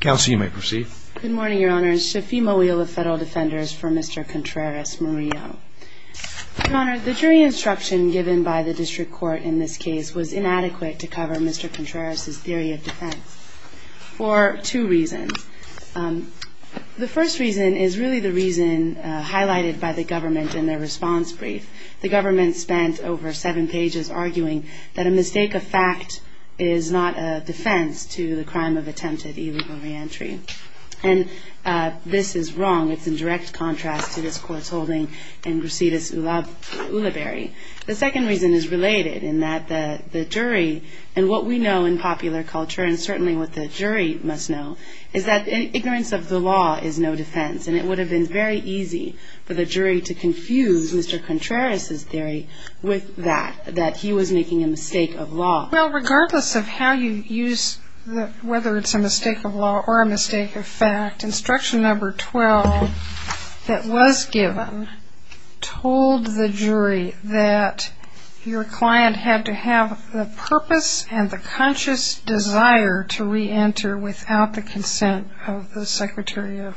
Counsel, you may proceed. Good morning, Your Honor. Shafima Wheel of Federal Defenders for Mr. Contreras-Murillo. Your Honor, the jury instruction given by the district court in this case was inadequate to cover Mr. Contreras' theory of defense for two reasons. The first reason is really the reason highlighted by the government in their response brief. The government spent over seven pages arguing that a mistake of fact is not a defense to the crime of attempted illegal re-entry. And this is wrong. It's in direct contrast to this court's holding in Brasidas Ulibarri. The second reason is related in that the jury and what we know in popular culture and certainly what the jury must know is that ignorance of the law is no defense. And it would have been very easy for the jury to confuse Mr. Contreras' theory with that, that he was making a mistake of law. Well, regardless of how you use whether it's a mistake of law or a mistake of fact, instruction number 12 that was given told the jury that your client had to have the purpose and the conscious desire to re-enter without the consent of the secretary of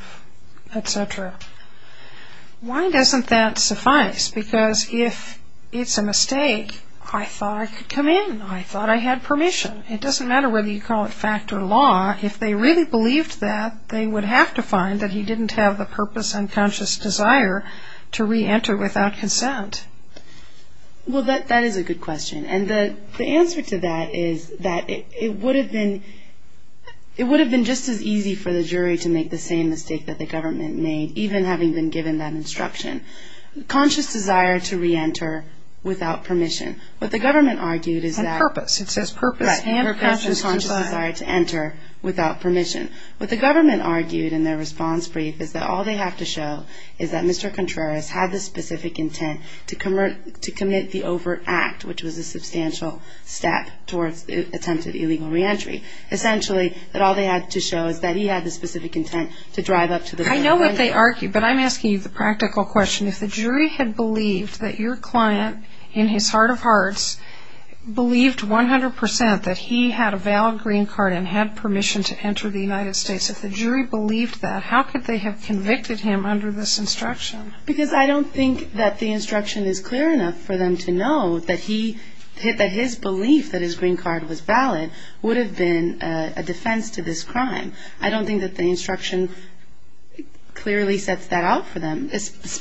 etc. Why doesn't that suffice? Because if it's a mistake, I thought I could come in. I thought I had permission. It doesn't matter whether you call it fact or law. If they really believed that, they would have to find that he didn't have the purpose and conscious desire to re-enter without consent. Well, that is a good question. And the answer to that is that it would have been just as easy for the jury to make the same mistake that the government made, even having been given that instruction. Conscious desire to re-enter without permission. What the government argued is that... On purpose. It says purpose and conscious desire. Right. Purpose and conscious desire to enter without permission. What the government argued in their response brief is that all they have to show is that Mr. Contreras had the specific intent to commit the overt act, which was a substantial step towards attempted illegal re-entry. Essentially, that all they had to show is that he had the specific intent to drive up to the... I know what they argue, but I'm asking you the practical question. If the jury had believed that your client, in his heart of hearts, believed 100% that he had a valid green card and had permission to enter the United States, if the jury believed that, how could they have convicted him under this instruction? Because I don't think that the instruction is clear enough for them to know that his belief that his green card was valid would have been a defense to this crime. I don't think that the instruction clearly sets that out for them,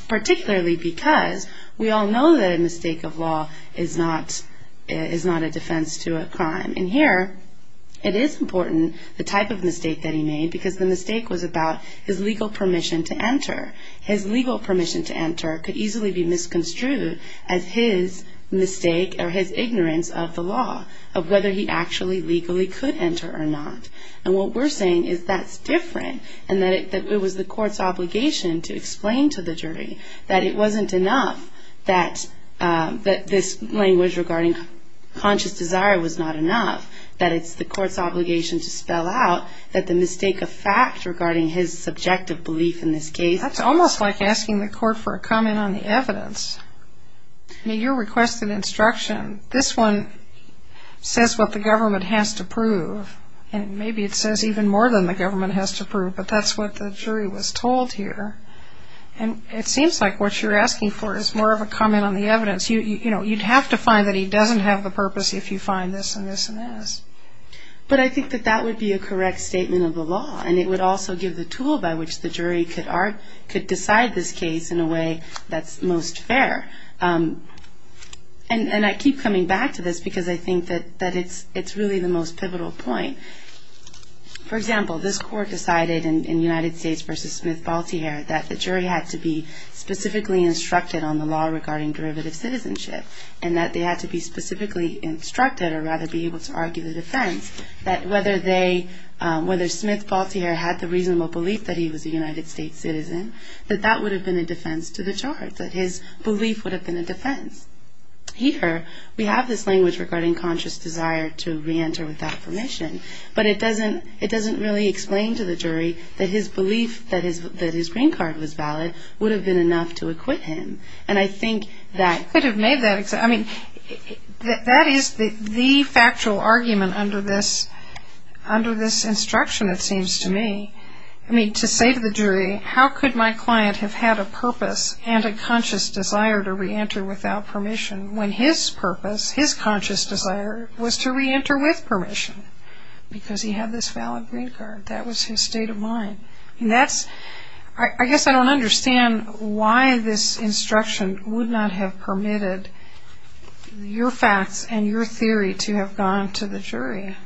particularly because we all know that a mistake of law is not a defense to a crime. And here, it is important, the type of mistake that he made, because the mistake was about his legal permission to enter. His legal permission to enter could easily be misconstrued as his mistake or his ignorance of the law, of whether he actually legally could enter or not. And what we're saying is that's different, and that it was the court's obligation to explain to the jury that it wasn't enough that this language regarding conscious desire was not enough, that it's the court's obligation to spell out that the mistake of fact regarding his subjective belief in this case. That's almost like asking the court for a comment on the evidence. I mean, you requested instruction. This one says what the government has to prove, and maybe it says even more than the government has to prove, but that's what the jury was told here. And it seems like what you're asking for is more of a comment on the evidence. You'd have to find that he doesn't have the purpose if you find this and this and this. But I think that that would be a correct statement of the law, and it would also give the tool by which the jury could decide this case in a way that's most fair. And I keep coming back to this because I think that it's really the most pivotal point. For example, this court decided in United States v. Smith-Baltier that the jury had to be specifically instructed on the law regarding derivative citizenship and that they had to be specifically instructed or rather be able to argue the defense that whether Smith-Baltier had the reasonable belief that he was a United States citizen, that that would have been a defense to the charge, that his belief would have been a defense. Here, we have this language regarding conscious desire to reenter without permission, but it doesn't really explain to the jury that his belief that his green card was valid would have been enough to acquit him. And I think that could have made that example. I mean, that is the factual argument under this instruction, it seems to me. I mean, to say to the jury, how could my client have had a purpose and a conscious desire to reenter without permission when his purpose, his conscious desire, was to reenter with permission because he had this valid green card. That was his state of mind. I guess I don't understand why this instruction would not have permitted your facts and your theory to have gone to the jury.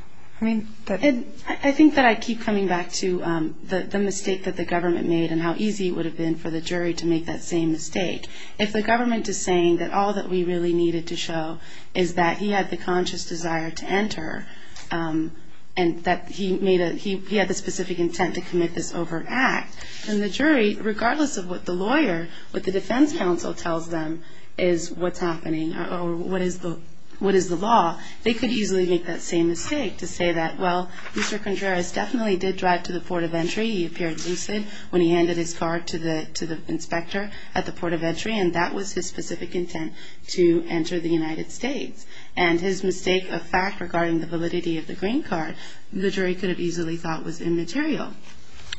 I think that I keep coming back to the mistake that the government made and how easy it would have been for the jury to make that same mistake. If the government is saying that all that we really needed to show is that he had the conscious desire to enter and that he had the specific intent to commit this overt act, then the jury, regardless of what the lawyer, what the defense counsel tells them, is what's happening or what is the law, they could easily make that same mistake to say that, well, Mr. Condreras definitely did drive to the port of entry. He appeared lucid when he handed his card to the inspector at the port of entry, and that was his specific intent to enter the United States. And his mistake of fact regarding the validity of the green card, the jury could have easily thought was immaterial.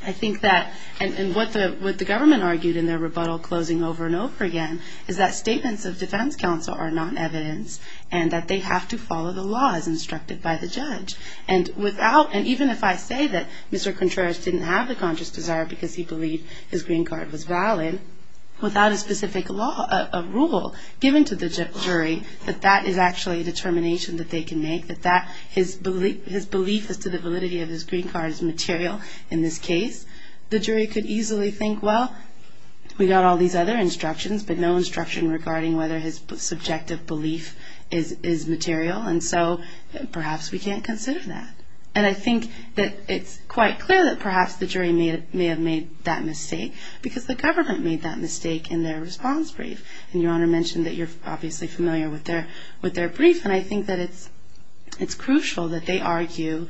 I think that, and what the government argued in their rebuttal closing over and over again, is that statements of defense counsel are not evidence and that they have to follow the laws instructed by the judge. And even if I say that Mr. Condreras didn't have the conscious desire because he believed his green card was valid, without a specific rule given to the jury, that that is actually a determination that they can make, that his belief as to the validity of his green card is material in this case, the jury could easily think, well, we got all these other instructions, but no instruction regarding whether his subjective belief is material, and so perhaps we can't consider that. And I think that it's quite clear that perhaps the jury may have made that mistake because the government made that mistake in their response brief. And Your Honor mentioned that you're obviously familiar with their brief, and I think that it's crucial that they argue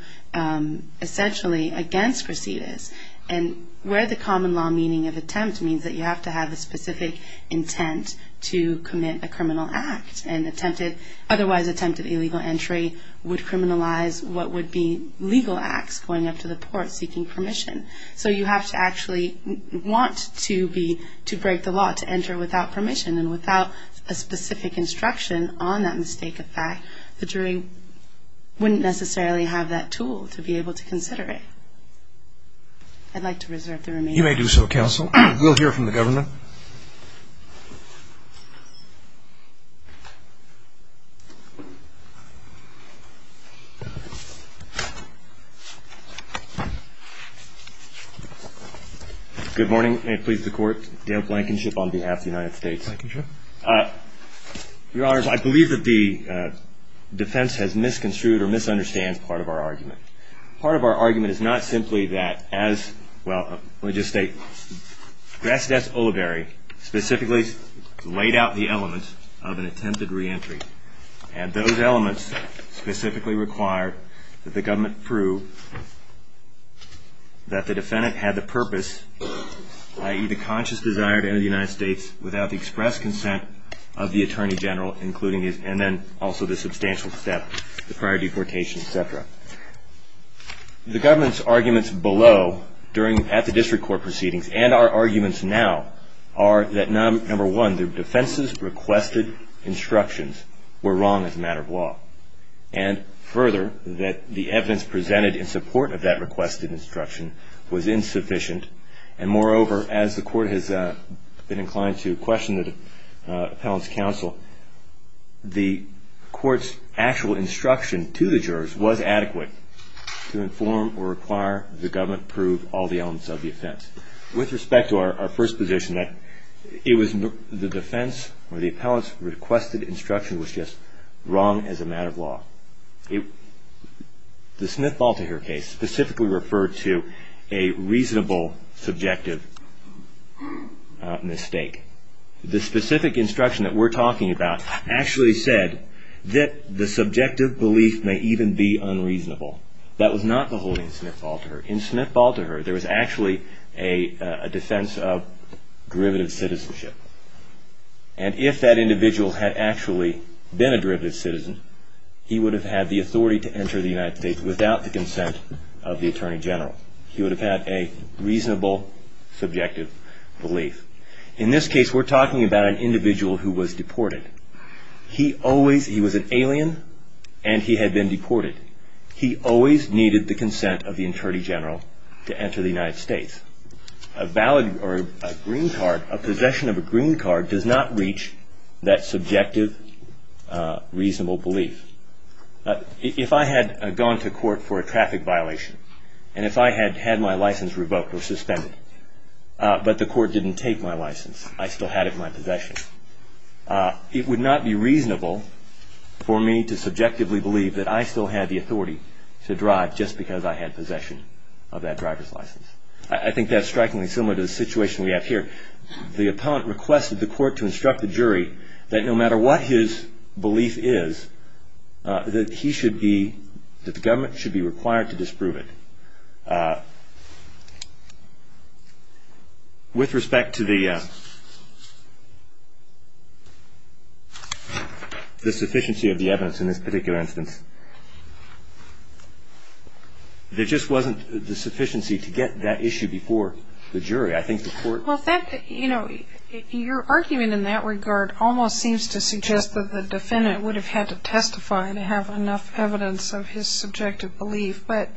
essentially against recedes. And where the common law meaning of attempt means that you have to have a specific intent to commit a criminal act, and otherwise attempted illegal entry would criminalize what would be legal acts, going up to the court seeking permission. So you have to actually want to break the law to enter without permission and without a specific instruction on that mistake of fact, the jury wouldn't necessarily have that tool to be able to consider it. I'd like to reserve the remaining time. You may do so, counsel. We'll hear from the government. Good morning. May it please the Court. Dale Blankenship on behalf of the United States. Blankenship. Your Honors, I believe that the defense has misconstrued or misunderstands part of our argument. Part of our argument is not simply that as, well, let me just state, Grassley S. Ulibarri specifically laid out the elements of an attempted reentry. And those elements specifically require that the government prove that the defendant had the purpose, i.e., the conscious desire to enter the United States without the express consent of the Attorney General, and then also the substantial step, the prior deportation, et cetera. The government's arguments below at the district court proceedings and our arguments now are that, number one, the defense's requested instructions were wrong as a matter of law. And further, that the evidence presented in support of that requested instruction was insufficient. And moreover, as the court has been inclined to question the appellant's counsel, the court's actual instruction to the jurors was adequate to inform or require the government prove all the elements of the offense. With respect to our first position, that it was the defense or the appellant's requested instruction was just wrong as a matter of law. The Smith-Baltiher case specifically referred to a reasonable subjective mistake. The specific instruction that we're talking about actually said that the subjective belief may even be unreasonable. That was not the holding of Smith-Baltiher. In Smith-Baltiher, there was actually a defense of derivative citizenship. And if that individual had actually been a derivative citizen, he would have had the authority to enter the United States without the consent of the attorney general. He would have had a reasonable subjective belief. In this case, we're talking about an individual who was deported. He always, he was an alien and he had been deported. He always needed the consent of the attorney general to enter the United States. A valid or a green card, a possession of a green card does not reach that subjective reasonable belief. If I had gone to court for a traffic violation and if I had had my license revoked or suspended, but the court didn't take my license, I still had it in my possession, it would not be reasonable for me to subjectively believe that I still had the authority to drive just because I had possession of that driver's license. I think that's strikingly similar to the situation we have here. The appellant requested the court to instruct the jury that no matter what his belief is, that he should be, that the government should be required to disprove it. With respect to the sufficiency of the evidence in this particular instance, there just wasn't the sufficiency to get that issue before the jury. I think the court... Well, that, you know, your argument in that regard almost seems to suggest that the defendant would have had to testify to have enough evidence of his subjective belief. But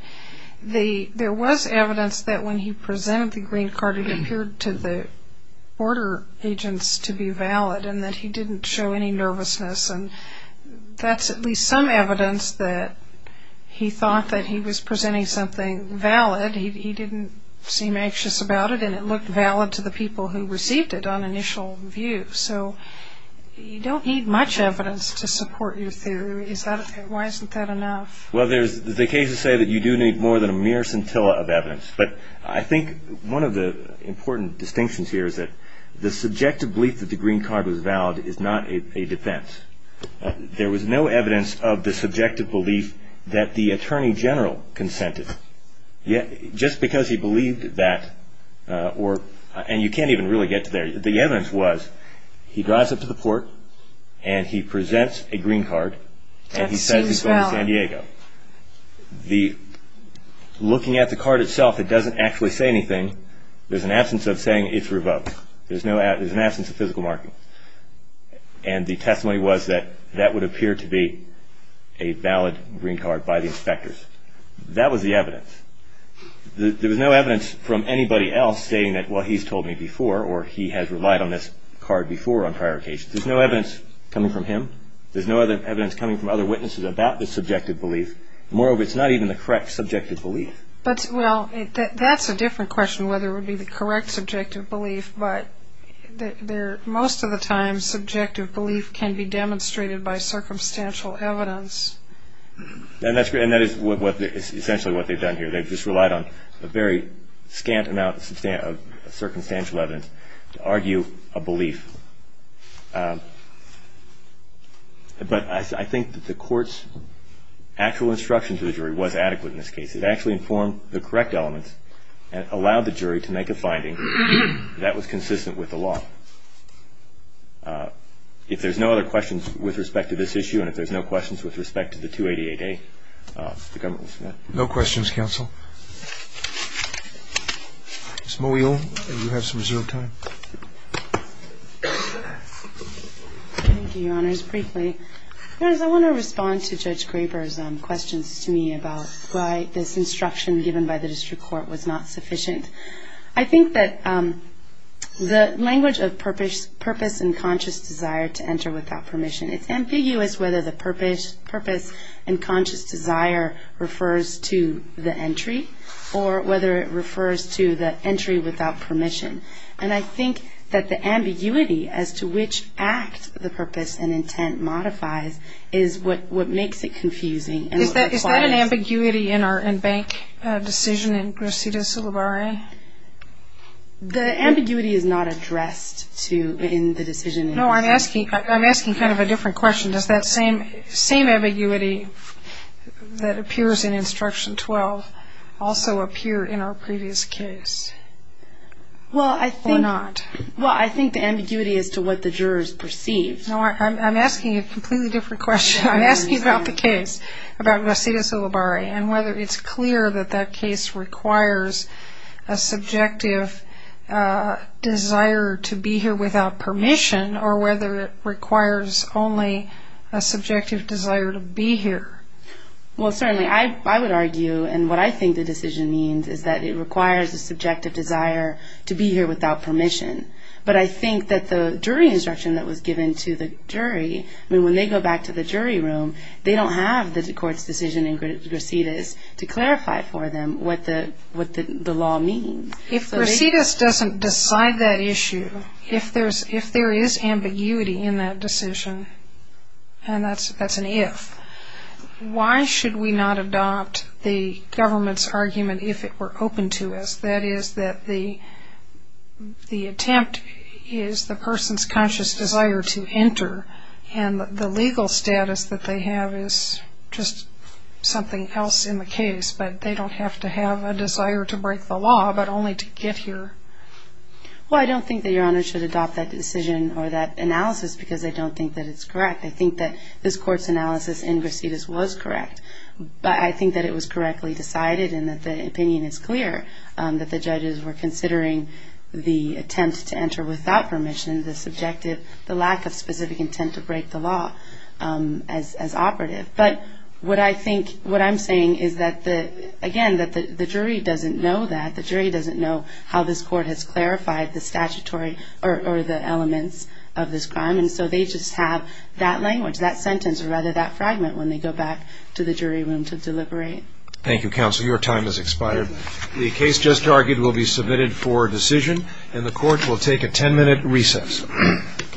there was evidence that when he presented the green card, it appeared to the border agents to be valid and that he didn't show any nervousness. And that's at least some evidence that he thought that he was presenting something valid. He didn't seem anxious about it, and it looked valid to the people who received it on initial view. So you don't need much evidence to support your theory. Why isn't that enough? Well, the cases say that you do need more than a mere scintilla of evidence. But I think one of the important distinctions here is that the subjective belief that the green card was valid is not a defense. There was no evidence of the subjective belief that the attorney general consented. Just because he believed that, and you can't even really get to there, the evidence was he drives up to the port, and he presents a green card, and he says he's going to San Diego. Looking at the card itself, it doesn't actually say anything. There's an absence of saying it's revoked. There's an absence of physical marking. And the testimony was that that would appear to be a valid green card by the inspectors. That was the evidence. There was no evidence from anybody else stating that, well, he's told me before or he has relied on this card before on prior occasions. There's no evidence coming from him. There's no evidence coming from other witnesses about the subjective belief. Moreover, it's not even the correct subjective belief. Well, that's a different question whether it would be the correct subjective belief, but most of the time subjective belief can be demonstrated by circumstantial evidence. And that is essentially what they've done here. They've just relied on a very scant amount of circumstantial evidence to argue a belief. But I think that the court's actual instruction to the jury was adequate in this case. It actually informed the correct elements and allowed the jury to make a finding that was consistent with the law. If there's no other questions with respect to this issue and if there's no questions with respect to the 288A, the government will submit. No questions, counsel. Ms. Mowiel, you have some reserved time. Thank you, Your Honors. Briefly, I want to respond to Judge Graber's questions to me about why this instruction given by the district court was not sufficient. I think that the language of purpose and conscious desire to enter without permission, it's ambiguous whether the purpose and conscious desire refers to the entry or whether it refers to the entry without permission. And I think that the ambiguity as to which act the purpose and intent modifies is what makes it confusing. Is that an ambiguity in our in-bank decision in Crescidas-Sulaware? The ambiguity is not addressed in the decision. No, I'm asking kind of a different question. Does that same ambiguity that appears in Instruction 12 also appear in our previous case or not? Well, I think the ambiguity is to what the jurors perceive. No, I'm asking a completely different question. I'm asking about the case, about Crescidas-Sulaware, and whether it's clear that that case requires a subjective desire to be here without permission or whether it requires only a subjective desire to be here. Well, certainly I would argue, and what I think the decision means, is that it requires a subjective desire to be here without permission. But I think that the jury instruction that was given to the jury, I mean, when they go back to the jury room, they don't have the court's decision in Crescidas to clarify for them what the law means. If Crescidas doesn't decide that issue, if there is ambiguity in that decision, and that's an if, why should we not adopt the government's argument if it were open to us? That is, that the attempt is the person's conscious desire to enter, and the legal status that they have is just something else in the case, but they don't have to have a desire to break the law but only to get here. Well, I don't think that Your Honor should adopt that decision or that analysis because I don't think that it's correct. I think that this court's analysis in Crescidas was correct, but I think that it was correctly decided and that the opinion is clear that the judges were considering the attempt to enter without permission, the subjective, the lack of specific intent to break the law as operative. But what I think, what I'm saying is that, again, that the jury doesn't know that. The jury doesn't know how this court has clarified the statutory or the elements of this crime, and so they just have that language, that sentence, or rather that fragment when they go back to the jury room to deliberate. Thank you, counsel. Your time has expired. The case just argued will be submitted for decision, and the court will take a 10-minute recess.